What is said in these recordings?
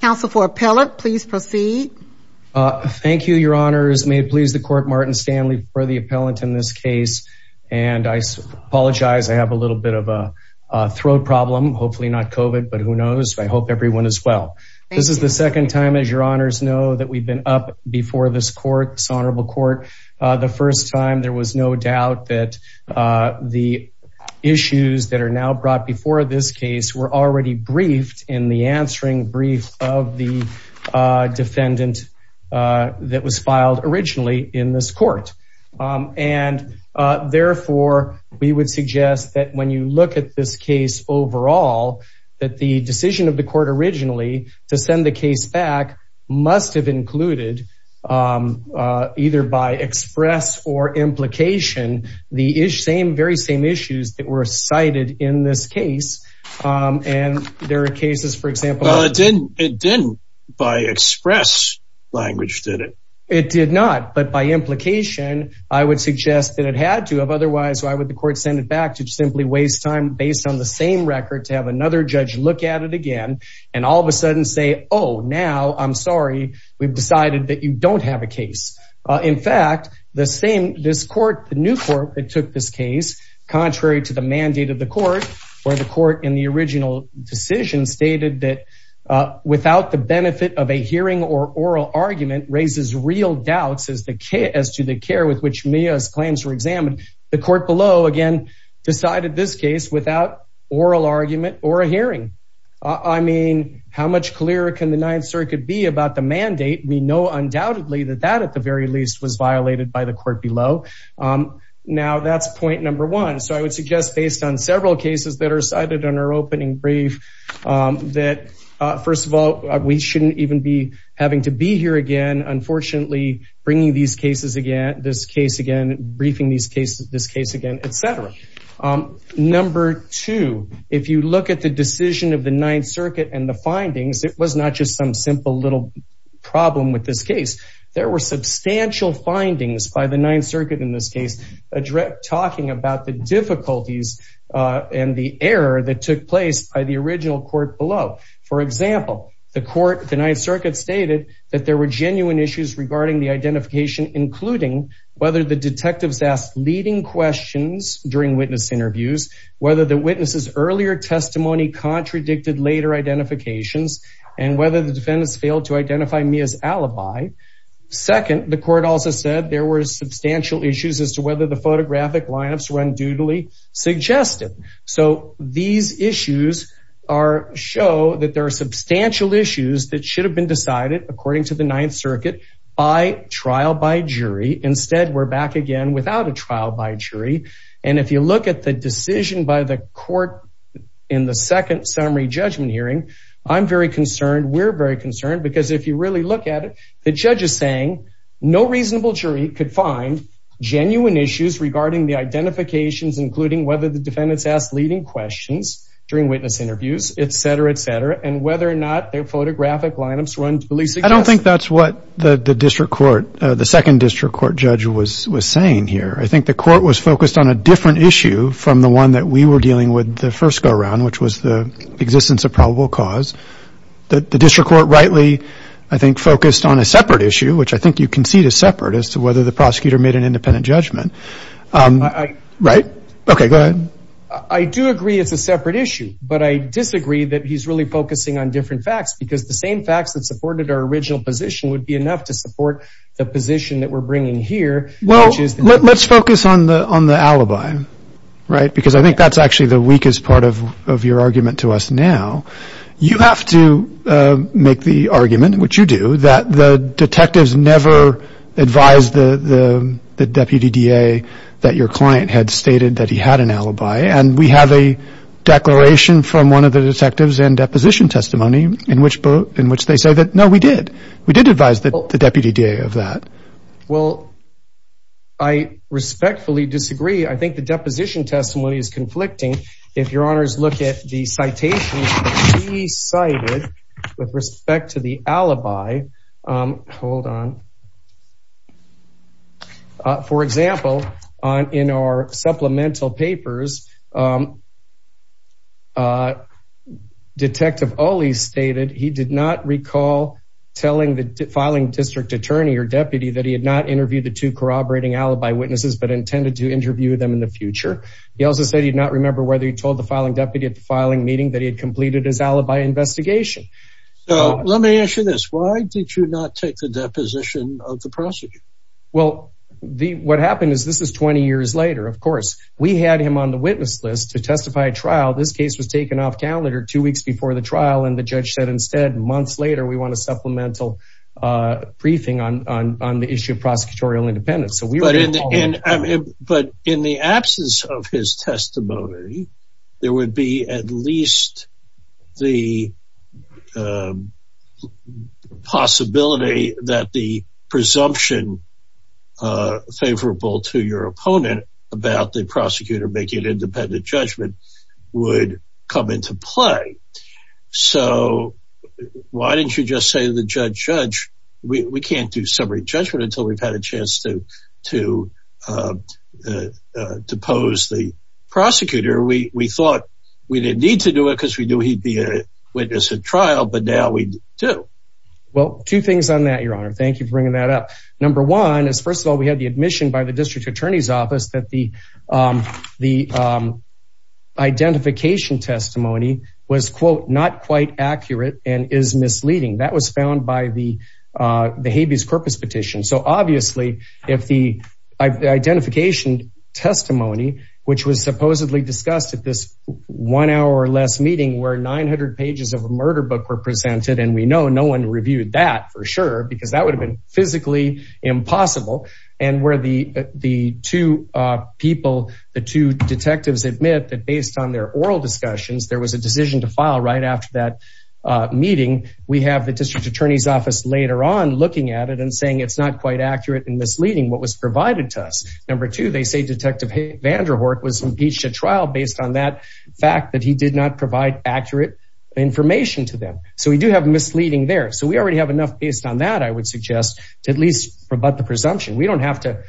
Council for appellate please proceed. Thank you, your honors. May it please the court Martin Stanley for the appellant in this case. And I apologize, I have a little bit of a throat problem, hopefully not COVID. But who knows, I hope everyone as well. This is the second time as your honors know that we've been up before this court, this honorable court. The first time there was no doubt that the issues that are now brought before this case were already briefed in the answering brief of the defendant that was filed originally in this court. And therefore, we would suggest that when you look at this case overall, that the decision of the court originally to send the case back must have included either by express or implication, the same very same issues that were cited in this case. And there are cases for example, it didn't, it didn't by express language, did it? It did not. But by implication, I would suggest that it had to have otherwise why would the court send it back to simply waste time based on the same record to have another judge look at it again, and all of a sudden say, Oh, now I'm sorry, we've decided that you don't have a case. In fact, the same this court, the new court that took this case, contrary to the mandate of the court, or the court in the original decision stated that without the benefit of a hearing or oral argument raises real doubts as the case as to the care with which Mia's plans were examined. The court below again, decided this case without oral argument or a hearing. I mean, how much clearer can the Ninth Circuit be about the possibility that that at the very least was violated by the court below? Now that's point number one. So I would suggest based on several cases that are cited on our opening brief, that first of all, we shouldn't even be having to be here again, unfortunately, bringing these cases again, this case again, briefing these cases, this case again, etc. Number two, if you look at the decision of the Ninth Circuit and the findings, it was not just some simple little problem with this case. There were substantial findings by the Ninth Circuit in this case, direct talking about the difficulties and the error that took place by the original court below. For example, the court, the Ninth Circuit stated that there were genuine issues regarding the identification, including whether the detectives asked leading questions during witness interviews, whether the witnesses earlier testimony contradicted later identifications, and whether the defendants failed to identify Mia's alibi. Second, the court also said there were substantial issues as to whether the photographic lineups were unduly suggested. So these issues show that there are substantial issues that should have been decided according to the Ninth Circuit by trial by jury. Instead, we're back again without a trial by jury. And if you look at the decision by the court in the second summary judgment hearing, I'm very concerned, we're very concerned, because if you really look at it, the judge is saying no reasonable jury could find genuine issues regarding the identifications, including whether the defendants asked leading questions during witness interviews, etc., etc., and whether or not their photographic lineups were unduly suggested. I don't think that's what the district court, the second district court judge was saying here. I think the court was focused on a different issue from the one that we were dealing with the first go-around, which was the existence of probable cause. The district court rightly, I think, focused on a separate issue, which I think you concede is separate, as to whether the prosecutor made an independent judgment. Right? Okay, go ahead. I do agree it's a separate issue, but I disagree that he's really focusing on different facts, because the same facts that supported our original position would be enough to support the position that we're bringing here, which is... Let's focus on the alibi, right? Because I think that's actually the weakest part of your argument to us now. You have to make the argument, which you do, that the detectives never advised the deputy DA that your client had stated that he had an alibi, and we have a declaration from one of the detectives in deposition testimony, in which they say that no, we did. We did advise the deputy DA of that. Well, I respectfully disagree. I think the deposition testimony is conflicting. If your honors look at the citations that he cited with respect to the alibi, hold on. For example, in our supplemental papers, Detective Olley stated he did not recall telling the filing district attorney or deputy that he had not interviewed the two corroborating alibi witnesses, but intended to interview them in the future. He also said he did not remember whether he told the filing deputy at the filing meeting that he had completed his alibi investigation. So, let me ask you this. Why did you not take the deposition of the prosecutor? Well, what happened is this is 20 years later. Of course, we had him on the witness list to testify at trial. This case was taken off calendar two weeks before the trial, and the briefing on the issue of prosecutorial independence. But in the absence of his testimony, there would be at least the possibility that the presumption favorable to your opponent about the prosecutor making an independent judgment would come into play. So, why didn't you just say the judge, we can't do summary judgment until we've had a chance to pose the prosecutor. We thought we didn't need to do it because we knew he'd be a witness at trial, but now we do. Well, two things on that, your honor. Thank you for bringing that up. Number one is, first of all, we had the admission by the district office that the identification testimony was, quote, not quite accurate and is misleading. That was found by the habeas corpus petition. So, obviously, if the identification testimony, which was supposedly discussed at this one hour or less meeting where 900 pages of a murder book were presented, and we know no one reviewed that for sure because that would have been physically impossible. And where the two people, the two detectives admit that based on their oral discussions, there was a decision to file right after that meeting. We have the district attorney's office later on looking at it and saying it's not quite accurate and misleading what was provided to us. Number two, they say Detective Van der Horck was impeached at trial based on that fact that he did not provide accurate information to them. So, we do have misleading there. So, we already have enough based on that, I would suggest, to at least rebut the presumption. We don't have to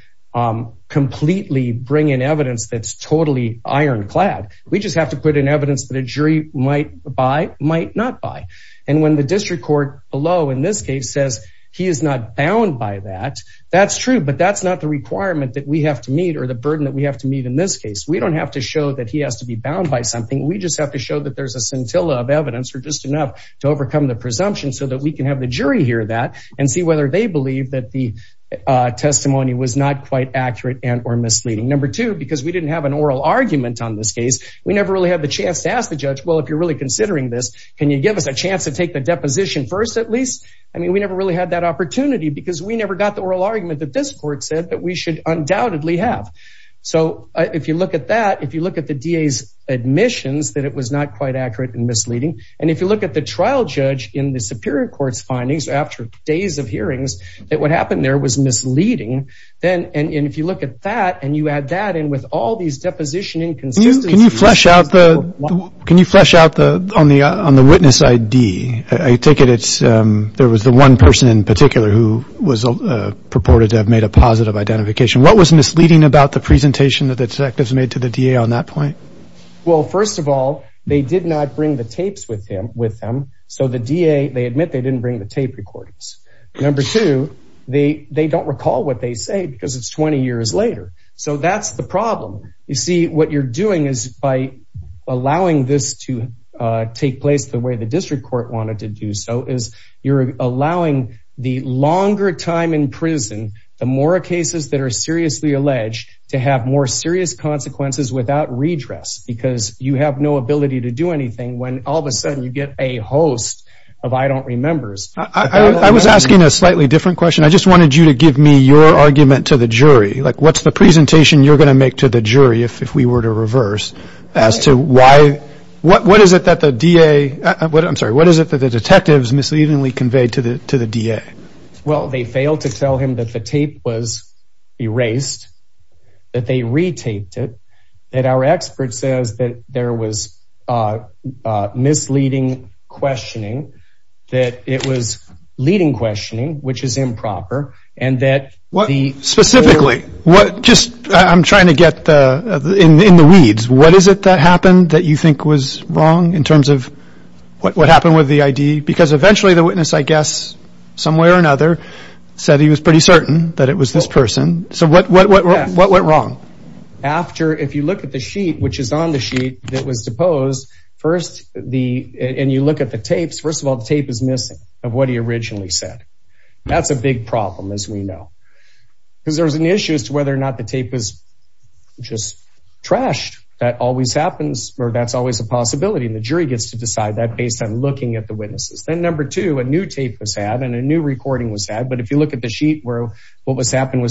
completely bring in evidence that's totally ironclad. We just have to put in evidence that a jury might buy, might not buy. And when the district court below in this case says he is not bound by that, that's true, but that's not the requirement that we have to meet or the burden that we have to meet in this case. We don't have to show that he has to be bound by something. We just have to show that there's a scintilla of evidence or just enough to overcome the presumption so that we can have the jury hear that and see whether they believe that the testimony was not quite accurate and or misleading. Number two, because we didn't have an oral argument on this case, we never really had the chance to ask the judge, well, if you're really considering this, can you give us a chance to take the deposition first at least? I mean, we never really had that opportunity because we never got the oral argument that this court said that we should undoubtedly have. So, if you look at that, if you look at the DA's misleading, and if you look at the trial judge in the superior court's findings after days of hearings, that what happened there was misleading. And if you look at that and you add that in with all these deposition inconsistencies. Can you flesh out on the witness ID? There was the one person in particular who was purported to have made a positive identification. What was misleading about the presentation that the detectives made to the DA on that point? Well, first of all, they did not bring the tapes with them. So, the DA, they admit they didn't bring the tape recordings. Number two, they don't recall what they say because it's 20 years later. So, that's the problem. You see, what you're doing is by allowing this to take place the way the district court wanted to do so is you're allowing the longer time in prison, the more cases that are because you have no ability to do anything when all of a sudden you get a host of I don't remember. I was asking a slightly different question. I just wanted you to give me your argument to the jury. Like what's the presentation you're going to make to the jury if we were to reverse as to why, what is it that the DA, I'm sorry, what is it that the detectives misleadingly conveyed to the DA? Well, they failed to tell him that the tape was erased, that they retaped it, that our expert says that there was misleading questioning, that it was leading questioning, which is improper, and that the... Specifically, what, just I'm trying to get in the weeds. What is it that happened that you think was wrong in terms of what happened with the ID? Because eventually the witness, I guess, some way or another, said he was pretty certain that it was this person. So what went wrong? After, if you look at the sheet, which is on the sheet that was deposed, first, and you look at the tapes, first of all, the tape is missing of what he originally said. That's a big problem as we know. Because there's an issue as to whether or not the tape is just trashed. That always happens, or that's always a possibility, and the jury gets to decide that based on looking at the witnesses. Then number two, a new tape was had and a new was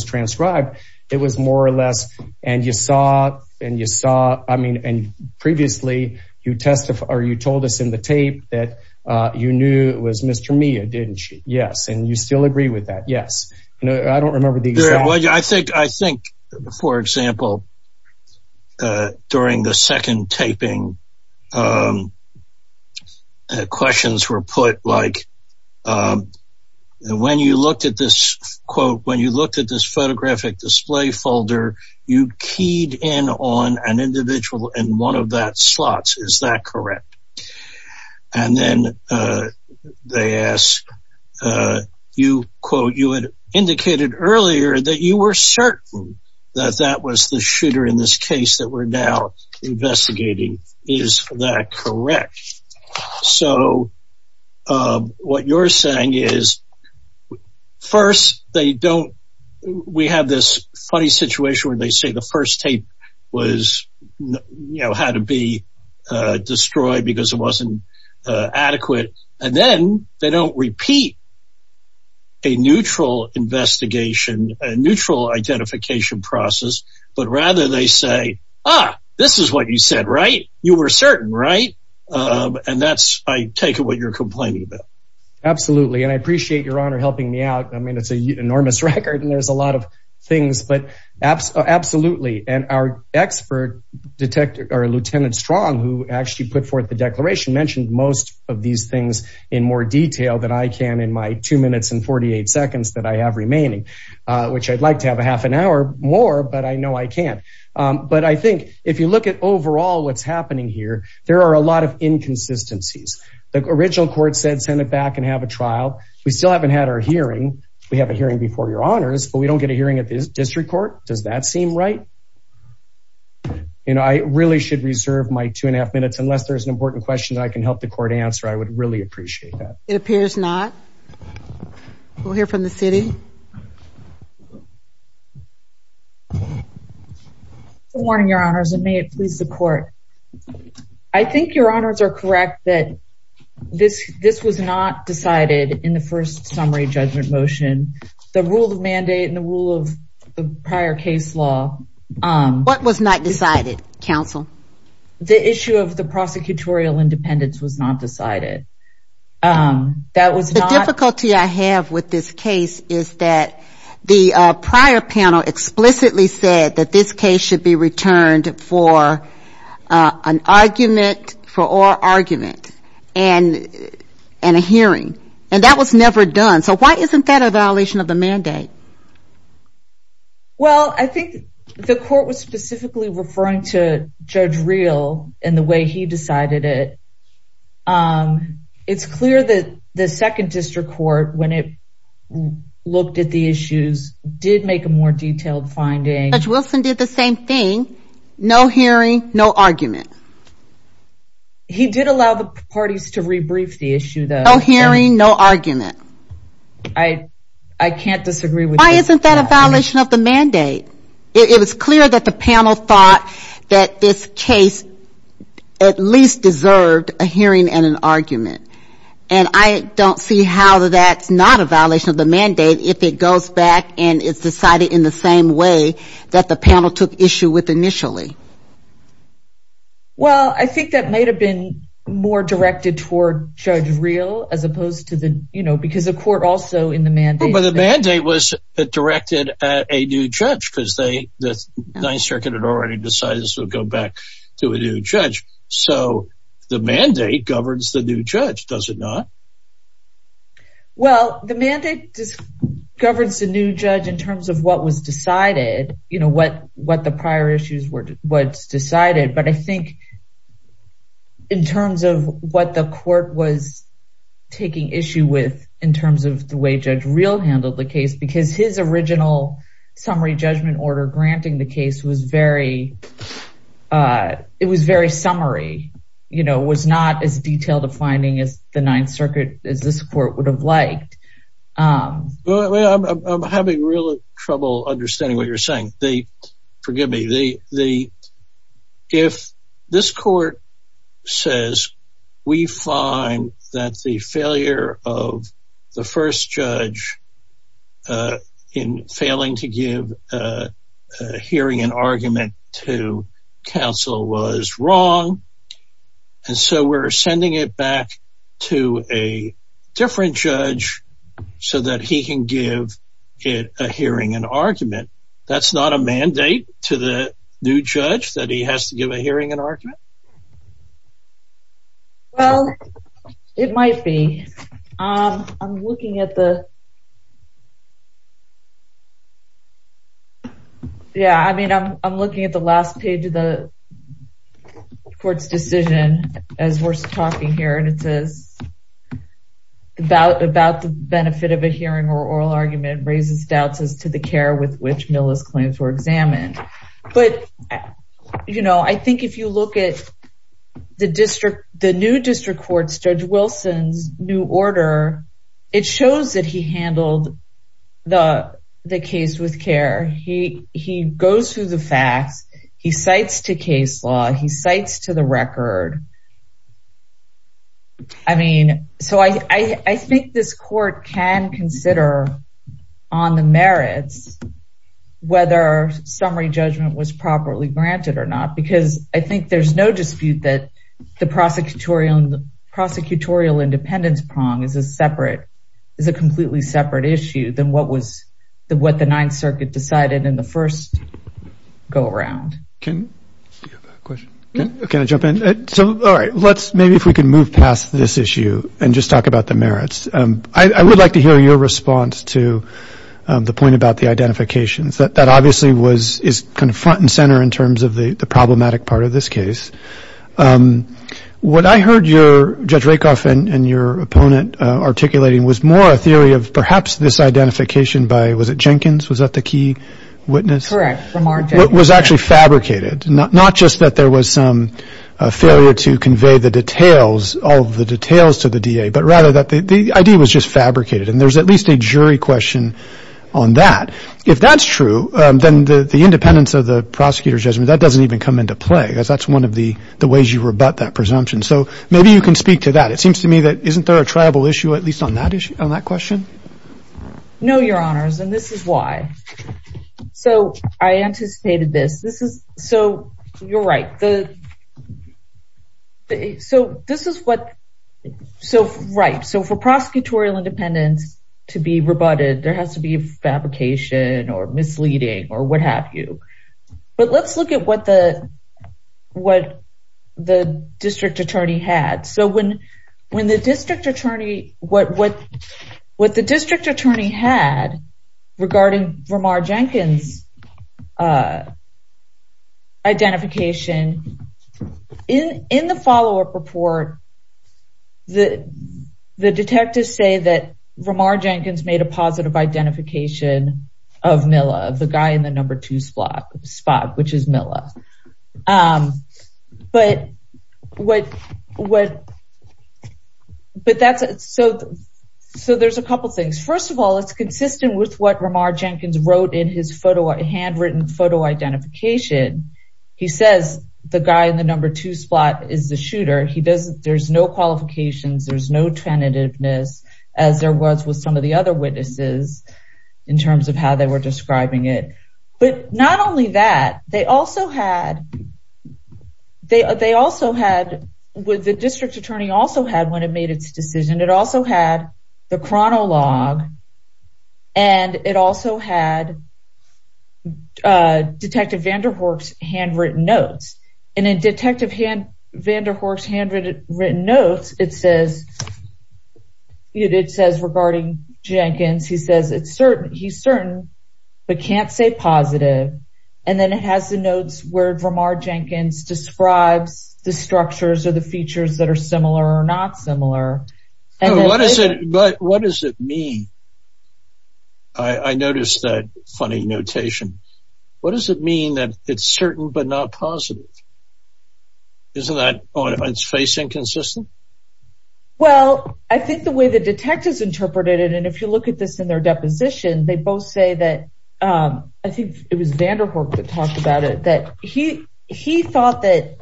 transcribed. It was more or less, and you saw, and you saw, I mean, and previously you testified, or you told us in the tape that you knew it was Mr. Mia, didn't you? Yes. And you still agree with that? Yes. I don't remember the exact... I think, for example, during the second taping, questions were put like, when you looked at this, quote, when you looked at this photographic display folder, you keyed in on an individual in one of that slots. Is that correct? And then they asked, you, quote, you had indicated earlier that you were certain that that was the shooter in this case that we're now investigating. Is that correct? So what you're saying is, first, they don't, we have this funny situation where they say the first tape was, you know, had to be destroyed because it wasn't adequate. And then they don't repeat a neutral investigation, a neutral identification process, but rather they say, ah, this is what you said, right? You were certain, right? And that's, I take it, what you're complaining about. Absolutely. And I appreciate your honor helping me out. I mean, it's an enormous record and there's a lot of things, but absolutely. And our expert detective, or Lieutenant Strong, who actually put forth the declaration mentioned most of these things in more detail than I can in my two minutes and 48 seconds that I have remaining, which I'd like to have a half an hour more, but I know I can't. But I think if you look at overall, what's happening here, there are a lot of inconsistencies. The original court said, send it back and have a trial. We still haven't had our hearing. We have a hearing before your honors, but we don't get a hearing at this district court. Does that seem right? You know, I really should reserve my two and a half minutes, unless there's an important question that I can help the court answer. I would really appreciate that. It appears not. We'll hear from the city. Good morning, your honors, and may it please the court. I think your honors are correct that this was not decided in the first summary judgment motion. The rule of mandate and the rule of the prior case law. What was not decided, counsel? The issue of the prosecutorial independence was not decided. The difficulty I have with this case is that the prior panel explicitly said that this case should be returned for an argument, for oral argument, and a hearing. And that was never done. So why isn't that a violation of the mandate? Well, I think the court was specifically referring to Judge Real and the way he decided it. It's clear that the second district court, when it looked at the issues, did make a more detailed finding. Judge Wilson did the same thing. No hearing, no argument. He did allow the parties to rebrief the issue, though. No hearing, no argument. I can't disagree with that. Why isn't that a violation of the mandate? It was clear that the panel thought that this case at least deserved a hearing and an argument. And I don't see how that's not a violation of the mandate if it goes back and is decided in the same way that the panel took issue with initially. Well, I think that might have been more directed toward Judge Real, as opposed to the, you know, because the court also in the mandate... But the mandate was directed at a new judge, because the Ninth Circuit had already decided this would go back to a new judge. So the mandate governs the new judge, does it not? Well, the mandate governs the new judge in terms of what was decided, you know, what the prior issues was decided. But I think in terms of what the court was taking issue with in terms of the way Judge Real handled the case, because his original summary judgment order granting the case was very, it was very summary, you know, was not as detailed a finding as the Ninth Circuit, as this court would have liked. Well, I'm having real trouble understanding what you're saying. Forgive me. If this court says we find that the failure of the first judge in failing to give a hearing and argument to wrong, and so we're sending it back to a different judge, so that he can give it a hearing and argument. That's not a mandate to the new judge that he has to give a hearing and argument? Well, it might be. I'm looking at the... court's decision, as we're talking here, and it says, about the benefit of a hearing or oral argument raises doubts as to the care with which Milla's claims were examined. But, you know, I think if you look at the district, the new district courts, Judge Wilson's new order, it shows that he handled the case with care. He goes through the facts, he cites to case law, he cites to the record. I mean, so I think this court can consider on the merits, whether summary judgment was properly granted or not, because I think there's no dispute that the prosecutorial, prosecutorial independence prong is a separate, is a completely separate issue than what was what the Ninth Circuit decided in the first go-around. Can I jump in? So, all right, let's, maybe if we can move past this issue and just talk about the merits. I would like to hear your response to the point about the identifications. That obviously was, is kind of front and center in terms of the problematic part of this case. What I heard your, Judge Rakoff and your opponent articulating was more a theory of perhaps this identification by, was it Jenkins? Was that the key witness? Correct. It was actually fabricated, not just that there was some failure to convey the details, all of the details to the DA, but rather that the idea was just fabricated. And there's at least a jury question on that. If that's true, then the independence of the prosecutor's judgment, that doesn't even come into play, because that's one of the ways you rebut that issue, at least on that issue, on that question. No, Your Honors, and this is why. So, I anticipated this. This is, so, you're right. The, so, this is what, so, right. So, for prosecutorial independence to be rebutted, there has to be fabrication or misleading or what have you. But let's look at what the, what the district attorney had. So, when, when the district attorney, what, what, what the district attorney had regarding Ramar Jenkins' identification in, in the follow-up report, the, the detectives say that Ramar Jenkins made a positive identification of Mila, the guy in the number two spot, which is Mila. Um, but what, what, but that's, so, so there's a couple things. First of all, it's consistent with what Ramar Jenkins wrote in his photo, handwritten photo identification. He says the guy in the number two spot is the shooter. He doesn't, there's no qualifications, there's no tentativeness as there was with some of the other witnesses in terms of how they were had. They, they also had, what the district attorney also had when it made its decision, it also had the chronologue and it also had Detective Vanderhoek's handwritten notes. And in Detective Vanderhoek's handwritten notes, it says, it says regarding Jenkins, he says it's the notes where Ramar Jenkins describes the structures or the features that are similar or not similar. What does it mean? I noticed that funny notation. What does it mean that it's certain but not positive? Isn't that on its face inconsistent? Well, I think the way the detectives interpreted it, and if you look at this in their deposition, they both say that, um, I think it was Vanderhoek that talked about it, that he, he thought that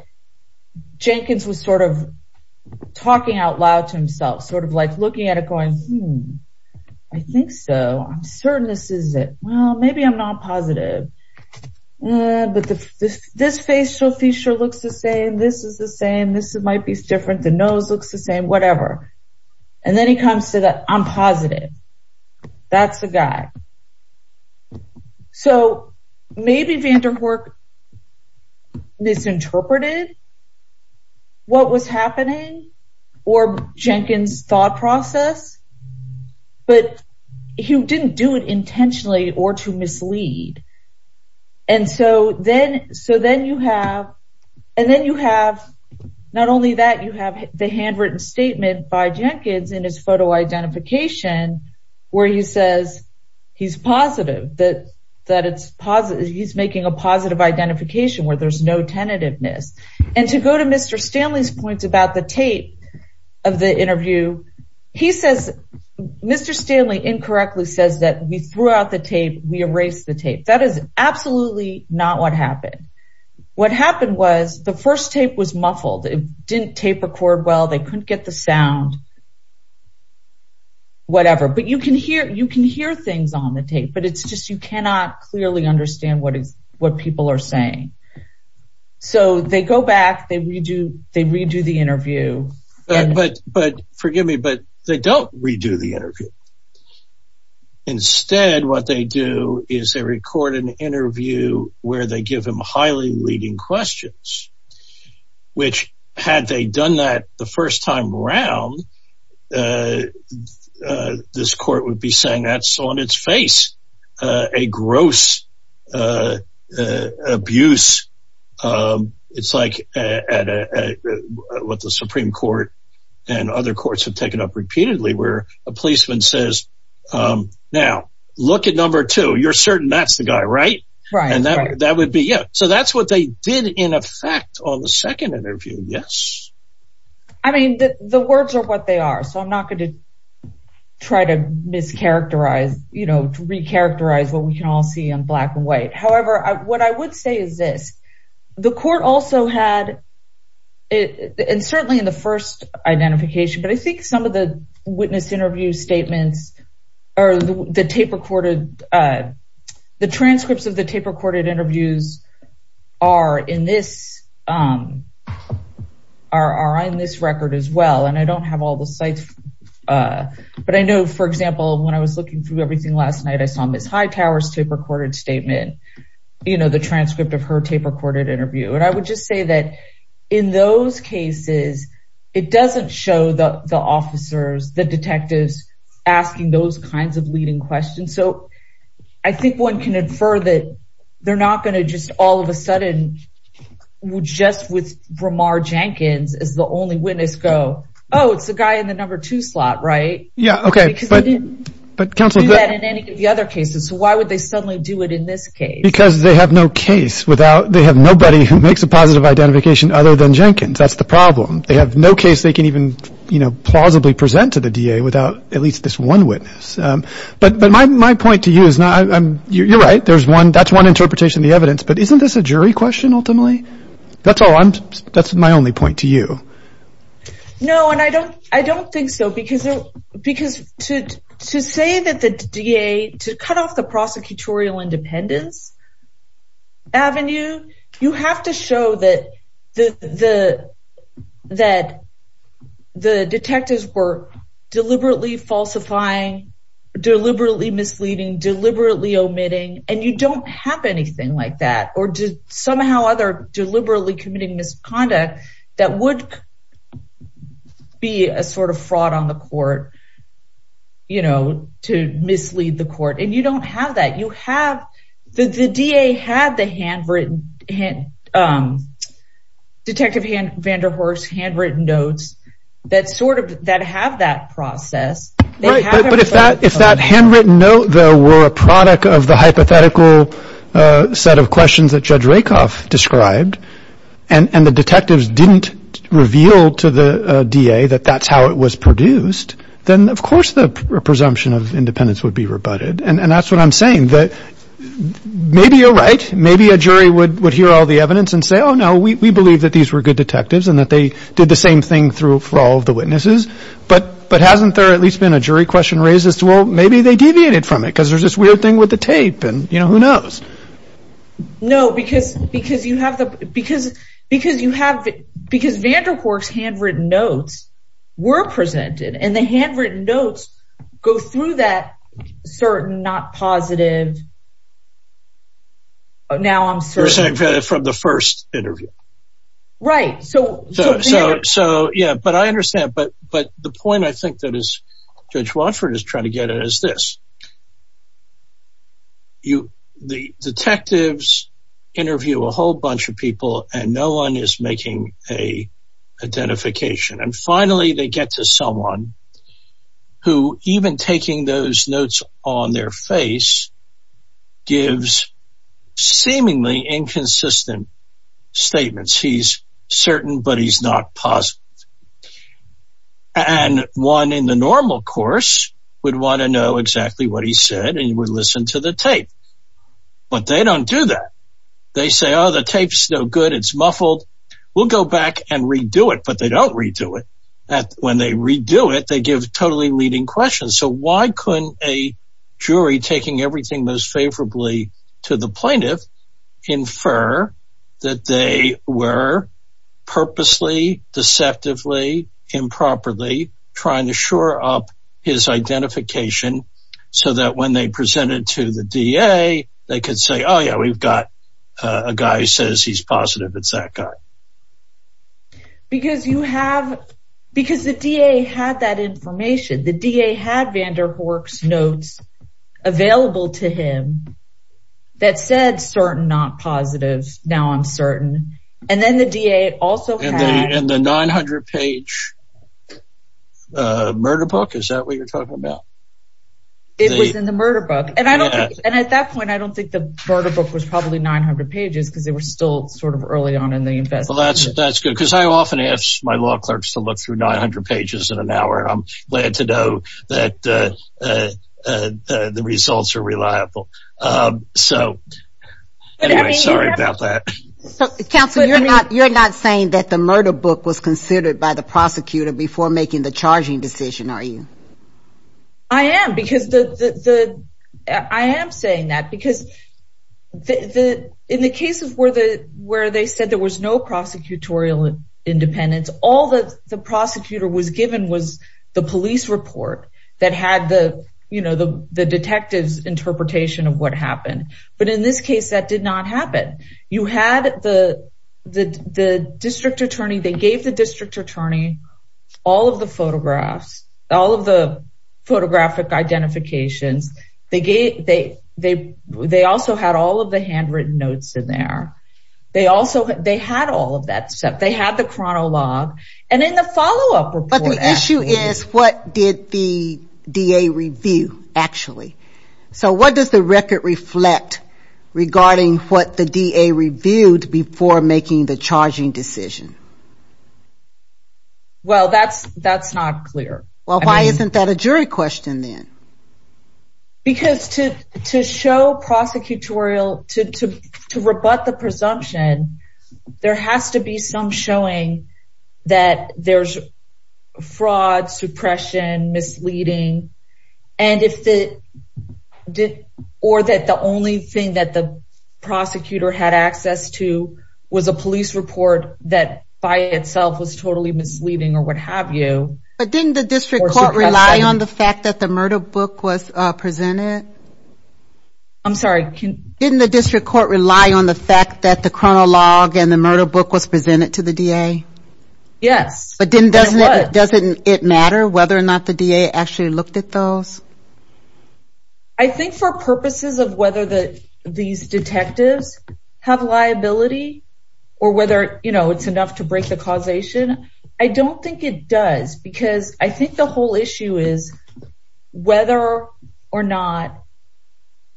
Jenkins was sort of talking out loud to himself, sort of like looking at it going, Hmm, I think so. I'm certain this is it. Well, maybe I'm not positive. But this, this facial feature looks the same. This is the same. This might be different. The nose looks the same, whatever. And then he comes to that. I'm positive. That's the guy. So maybe Vanderhoek misinterpreted what was happening, or Jenkins thought process, but he didn't do it intentionally or to mislead. And so then, so then you have, and then you have not only that you have the handwritten statement by Jenkins in photo identification, where he says, he's positive that that it's positive, he's making a positive identification where there's no tentativeness. And to go to Mr. Stanley's points about the tape of the interview, he says, Mr. Stanley incorrectly says that we threw out the tape, we erase the tape, that is absolutely not what happened. What happened was the first tape was muffled, it didn't tape record. Well, they couldn't get the sound. Whatever, but you can hear you can hear things on the tape. But it's just you cannot clearly understand what is what people are saying. So they go back, they redo, they redo the interview. But but forgive me, but they don't redo the interview. Instead, what they do is they record an interview where they give him highly leading questions, which had they done that the first time round. This court would be saying that's on its face, a gross abuse. It's like at what the Supreme Court and other courts have taken up repeatedly where a policeman says, Now, look at number two, you're certain that's the guy, right? Right. And that would be it. So that's what they did in effect on the second interview. Yes. I mean, the words are what they are. So I'm not going to try to mischaracterize, you know, to recharacterize what we can all see in black and white. However, what I would say is this, the court also had it and certainly in the first identification, but I think some of the witness interview statements, or the tape recorded, the transcripts of the tape recorded interviews are in this are on this record as well. And I don't have all the sites. But I know, for example, when I was looking through everything last night, I saw Ms. Hightower's tape recorded statement, you know, the transcript of her tape recorded interview. And I would just say that in those cases, it doesn't show the officers, the detectives asking those kinds of leading questions. So I think one can infer that they're not going to just all of a sudden, would just with Bramar Jenkins is the only witness go, Oh, it's the guy in the number two slot, right? Yeah, okay. But Councilman in any of the other cases, so why would they suddenly do it in this case? Because they have no case without they have nobody who makes a positive identification other than Jenkins. That's the problem. They have no case they can even, you know, plausibly present to the DA without at least this one witness. But But my point to you is not I'm you're right. There's one that's one interpretation of the evidence. But isn't this a jury question? Ultimately? That's all I'm that's my only point to you. No, and I don't I don't think so. Because, because to, to say that the DA to cut off the prosecutorial independence avenue, you have to show that the the, that the detectives were deliberately falsifying, deliberately misleading, deliberately omitting, and you don't have anything like that, or did somehow other deliberately committing misconduct, that would be a sort of fraud on the court, you know, to mislead the court, and you don't have that you have the DA had the handwritten Detective van der Horst handwritten notes, that sort of that have that process. But if that if that handwritten note, though, were a product of the hypothetical set of questions that Judge Rakoff described, and the detectives didn't reveal to the DA that that's how it was produced, then of course, the presumption of independence would be rebutted. And that's what I'm saying that maybe you're right, maybe a jury would would hear all the evidence and say, Oh, no, we believe that these were good detectives, and that they did the same thing through for all of the witnesses. But But hasn't there at least been a jury question raised as well, maybe they deviated from it, because there's this weird thing with the tape. And you know, who knows? No, because, because you have the because, because you have, because van der Horst handwritten notes were presented, and the handwritten notes go through that certain not positive. Now, I'm sorry, from the first interview. Right. So, so, so, yeah, but I understand. But But the point I think that is, Judge Watford is trying to get at is this. You, the detectives interview a whole bunch of people, and no one is making a identification. And finally, they get to someone who even taking those notes on their face, gives seemingly inconsistent statements, he's certain, but he's not positive. And one in the normal course, would want to know exactly what he said, and you would listen to the tape. But they don't do that. They say, Oh, the tapes no good, it's muffled. We'll go back and redo it. But they don't redo it. When they redo it, they give totally leading questions. So why couldn't a jury taking everything most favorably to the plaintiff, infer that they were purposely deceptively, improperly trying to shore up his identification, so that when they presented to the DA, they could say, Oh, yeah, we've got a guy who says he's positive. It's that guy. Because you have, because the DA had that information, the DA had Vanderhoek's notes available to him. That said certain not positives. Now I'm certain. And then the DA also had the 900 page murder book. Is that what you're talking about? It was in the murder book. And I don't. And at that point, I don't think the murder book was 900 pages, because they were still sort of early on in the investigation. That's good, because I often ask my law clerks to look through 900 pages in an hour. I'm glad to know that the results are reliable. So anyway, sorry about that. Counselor, you're not saying that the murder book was considered by the prosecutor before making the charging decision, are you? I am because the I am saying that because the in the cases where the where they said there was no prosecutorial independence, all the prosecutor was given was the police report that had the, you know, the detectives interpretation of what happened. But in this case, that did not happen. You had the the district attorney, they gave the district attorney all of the photographs, all of the photographic identifications. They gave they they they also had all of the handwritten notes in there. They also they had all of that stuff. They had the chronologue. And in the follow up report. But the issue is what did the DA review, actually? So what does the record reflect regarding what the DA reviewed before making the charging decision? Well, that's that's not clear. Well, why isn't that a jury question, then? Because to to show prosecutorial to rebut the presumption, there has to be some showing that there's fraud, suppression, misleading. And if it did, or that the only thing that the prosecutor had access to was a police report that by itself was totally misleading or what have you. But didn't the district court rely on the fact that the murder book was presented? I'm sorry, can the district court rely on the fact that the chronologue and the murder book was presented to the DA? Yes, but didn't doesn't doesn't it matter whether or not the DA actually looked at those? I think for purposes of whether the these detectives have liability, or whether, you know, it's enough to break the causation. I don't think it does. Because I think the whole issue is whether or not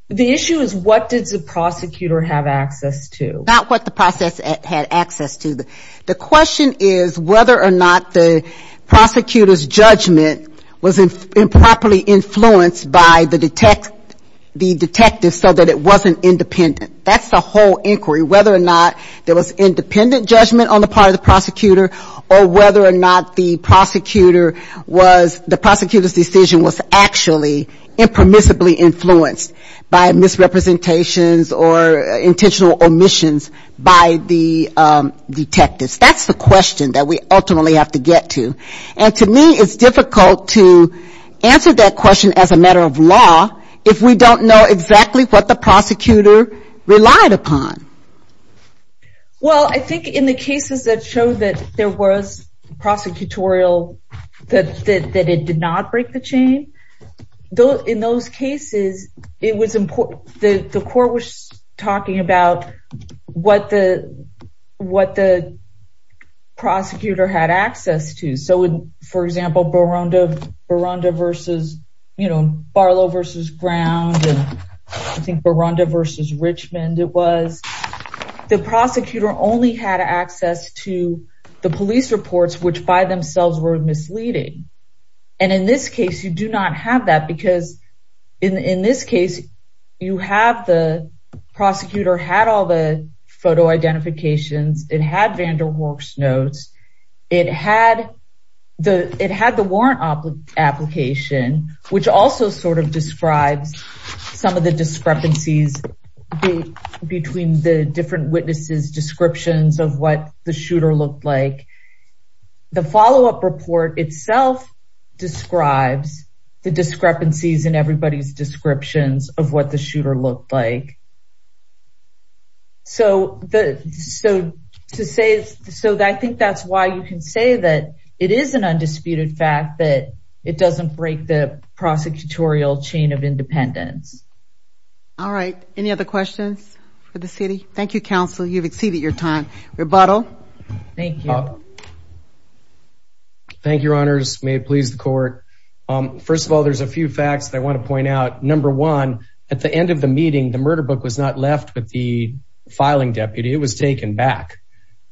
the issue is what did the prosecutor have access to? Not what the process had access to. The question is whether or not the prosecutor's judgment was improperly influenced by the detect, the detective so that it wasn't independent. That's the whole inquiry, whether or not there was independent judgment on the part of the prosecutor, or whether or not the prosecutor was, the prosecutor's decision was actually impermissibly influenced by misrepresentations or intentional omissions by the detectives. That's the question that we ultimately have to get to. And to me, it's difficult to answer that relied upon. Well, I think in the cases that show that there was prosecutorial, that that it did not break the chain, though, in those cases, it was important that the court was talking about what the what the prosecutor had access to. So, for example, Baronda versus, you know, Barlow versus Brown, I think Baronda versus Richmond, it was the prosecutor only had access to the police reports, which by themselves were misleading. And in this case, you do not have that because in this case, you have the prosecutor had all the photo identifications, it had Vanderwerks notes, it had the it had the warrant application, which also sort of describes some of the discrepancies between the different witnesses descriptions of what the shooter looked like. The follow up report itself describes the discrepancies in everybody's descriptions of what the shooter looked like. So the so to say so that I think that's why you can say that it is an undisputed fact that it doesn't break the prosecutorial chain of independence. All right. Any other questions for the city? Thank you, counsel. You've exceeded your time. Rebuttal. Thank you. Thank you, Your Honors. May it please the court. First of all, there's a few facts that I want to the filing deputy. It was taken back.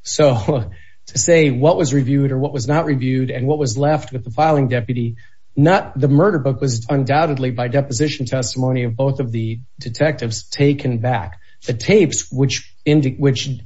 So to say what was reviewed or what was not reviewed and what was left with the filing deputy, not the murder book was undoubtedly by deposition testimony of both of the detectives taken back. The tapes which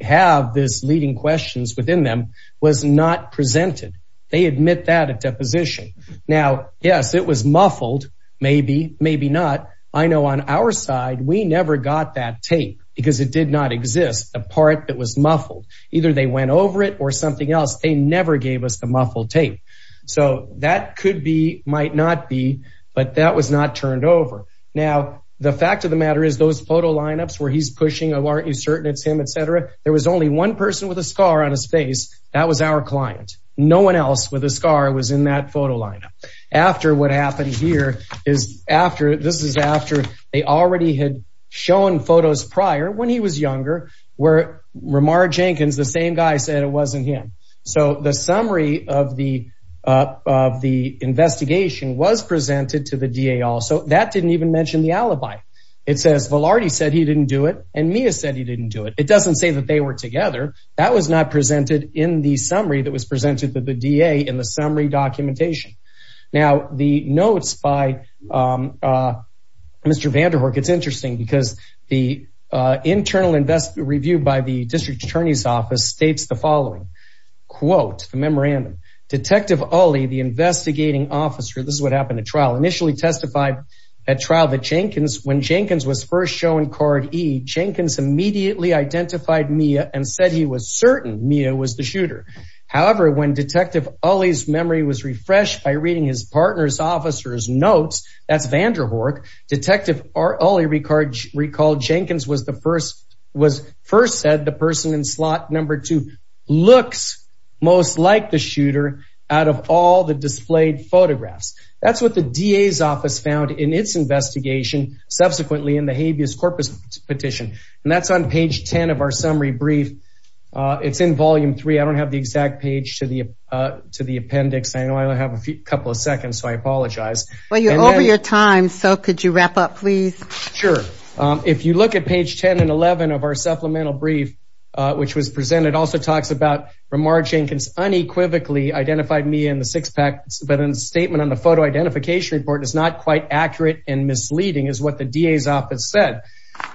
have this leading questions within them was not presented. They admit that at deposition. Now, yes, it was muffled. Maybe, maybe not. I know on our side, we never got that tape because it did not exist. A part that was muffled. Either they went over it or something else. They never gave us the muffled tape. So that could be might not be. But that was not turned over. Now, the fact of the matter is those photo lineups where he's pushing. Aren't you certain it's him, et cetera? There was only one person with a scar on his face. That was our client. No one else with a scar was in that photo after what happened here is after this is after they already had shown photos prior when he was younger, where remark Jenkins, the same guy said it wasn't him. So the summary of the of the investigation was presented to the D.A. Also, that didn't even mention the alibi. It says Velarde said he didn't do it. And Mia said he didn't do it. It doesn't say that they were together. That was not presented in the summary that was presented to the D.A. in the summary documentation. Now, the notes by Mr. Vanderhoek, it's interesting because the internal invest review by the district attorney's office states the following quote, the memorandum, Detective Ali, the investigating officer. This is what happened at trial initially testified at trial that Jenkins when Jenkins was first shown card E. Jenkins immediately identified Mia and said he was the shooter. However, when Detective Ali's memory was refreshed by reading his partner's officer's notes, that's Vanderhoek. Detective Ali recalled Jenkins was the first was first said the person in slot number two looks most like the shooter out of all the displayed photographs. That's what the D.A.'s office found in its investigation. Subsequently, in the habeas corpus petition, that's on page 10 of our summary brief. It's in volume three. I don't have the exact page to the appendix. I only have a couple of seconds, so I apologize. Well, you're over your time, so could you wrap up, please? Sure. If you look at page 10 and 11 of our supplemental brief, which was presented, also talks about remarking unequivocally identified me in the six pack, but in a statement on the photo identification report, it's not quite accurate and misleading is what the D.A.'s office said.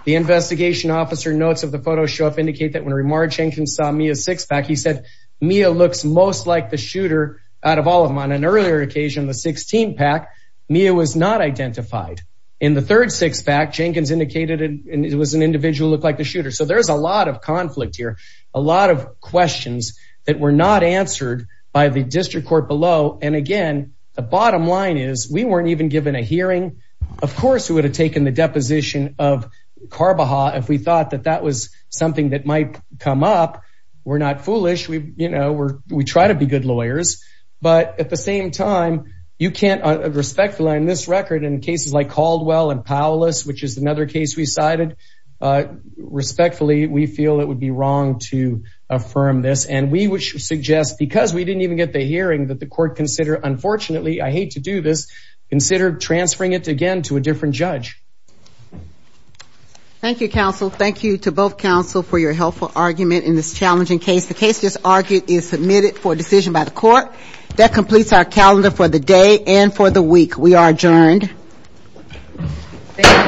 The investigation officer notes of the photo show up indicate that when remark Jenkins saw me a six pack, he said Mia looks most like the shooter out of all of them. On an earlier occasion, the 16 pack, Mia was not identified. In the third six pack, Jenkins indicated it was an individual look like the shooter. So there's a lot of conflict here, a lot of questions that were not answered by the district court below. And again, the bottom line is we weren't even given a hearing. Of course, we would have taken the deposition of Carboha if we thought that that was something that might come up. We're not foolish. We try to be good lawyers. But at the same time, you can't respectfully on this record in cases like Caldwell and Paulus, which is another case we cited. Respectfully, we feel it would be wrong to affirm this. And we would suggest because we didn't even get the hearing that the court consider, unfortunately, I hate to do this, consider transferring it again to a different judge. Thank you, counsel. Thank you to both counsel for your helpful argument in this challenging case. The case just argued is submitted for decision by the court that completes our calendar for the day and for the week. We are adjourned.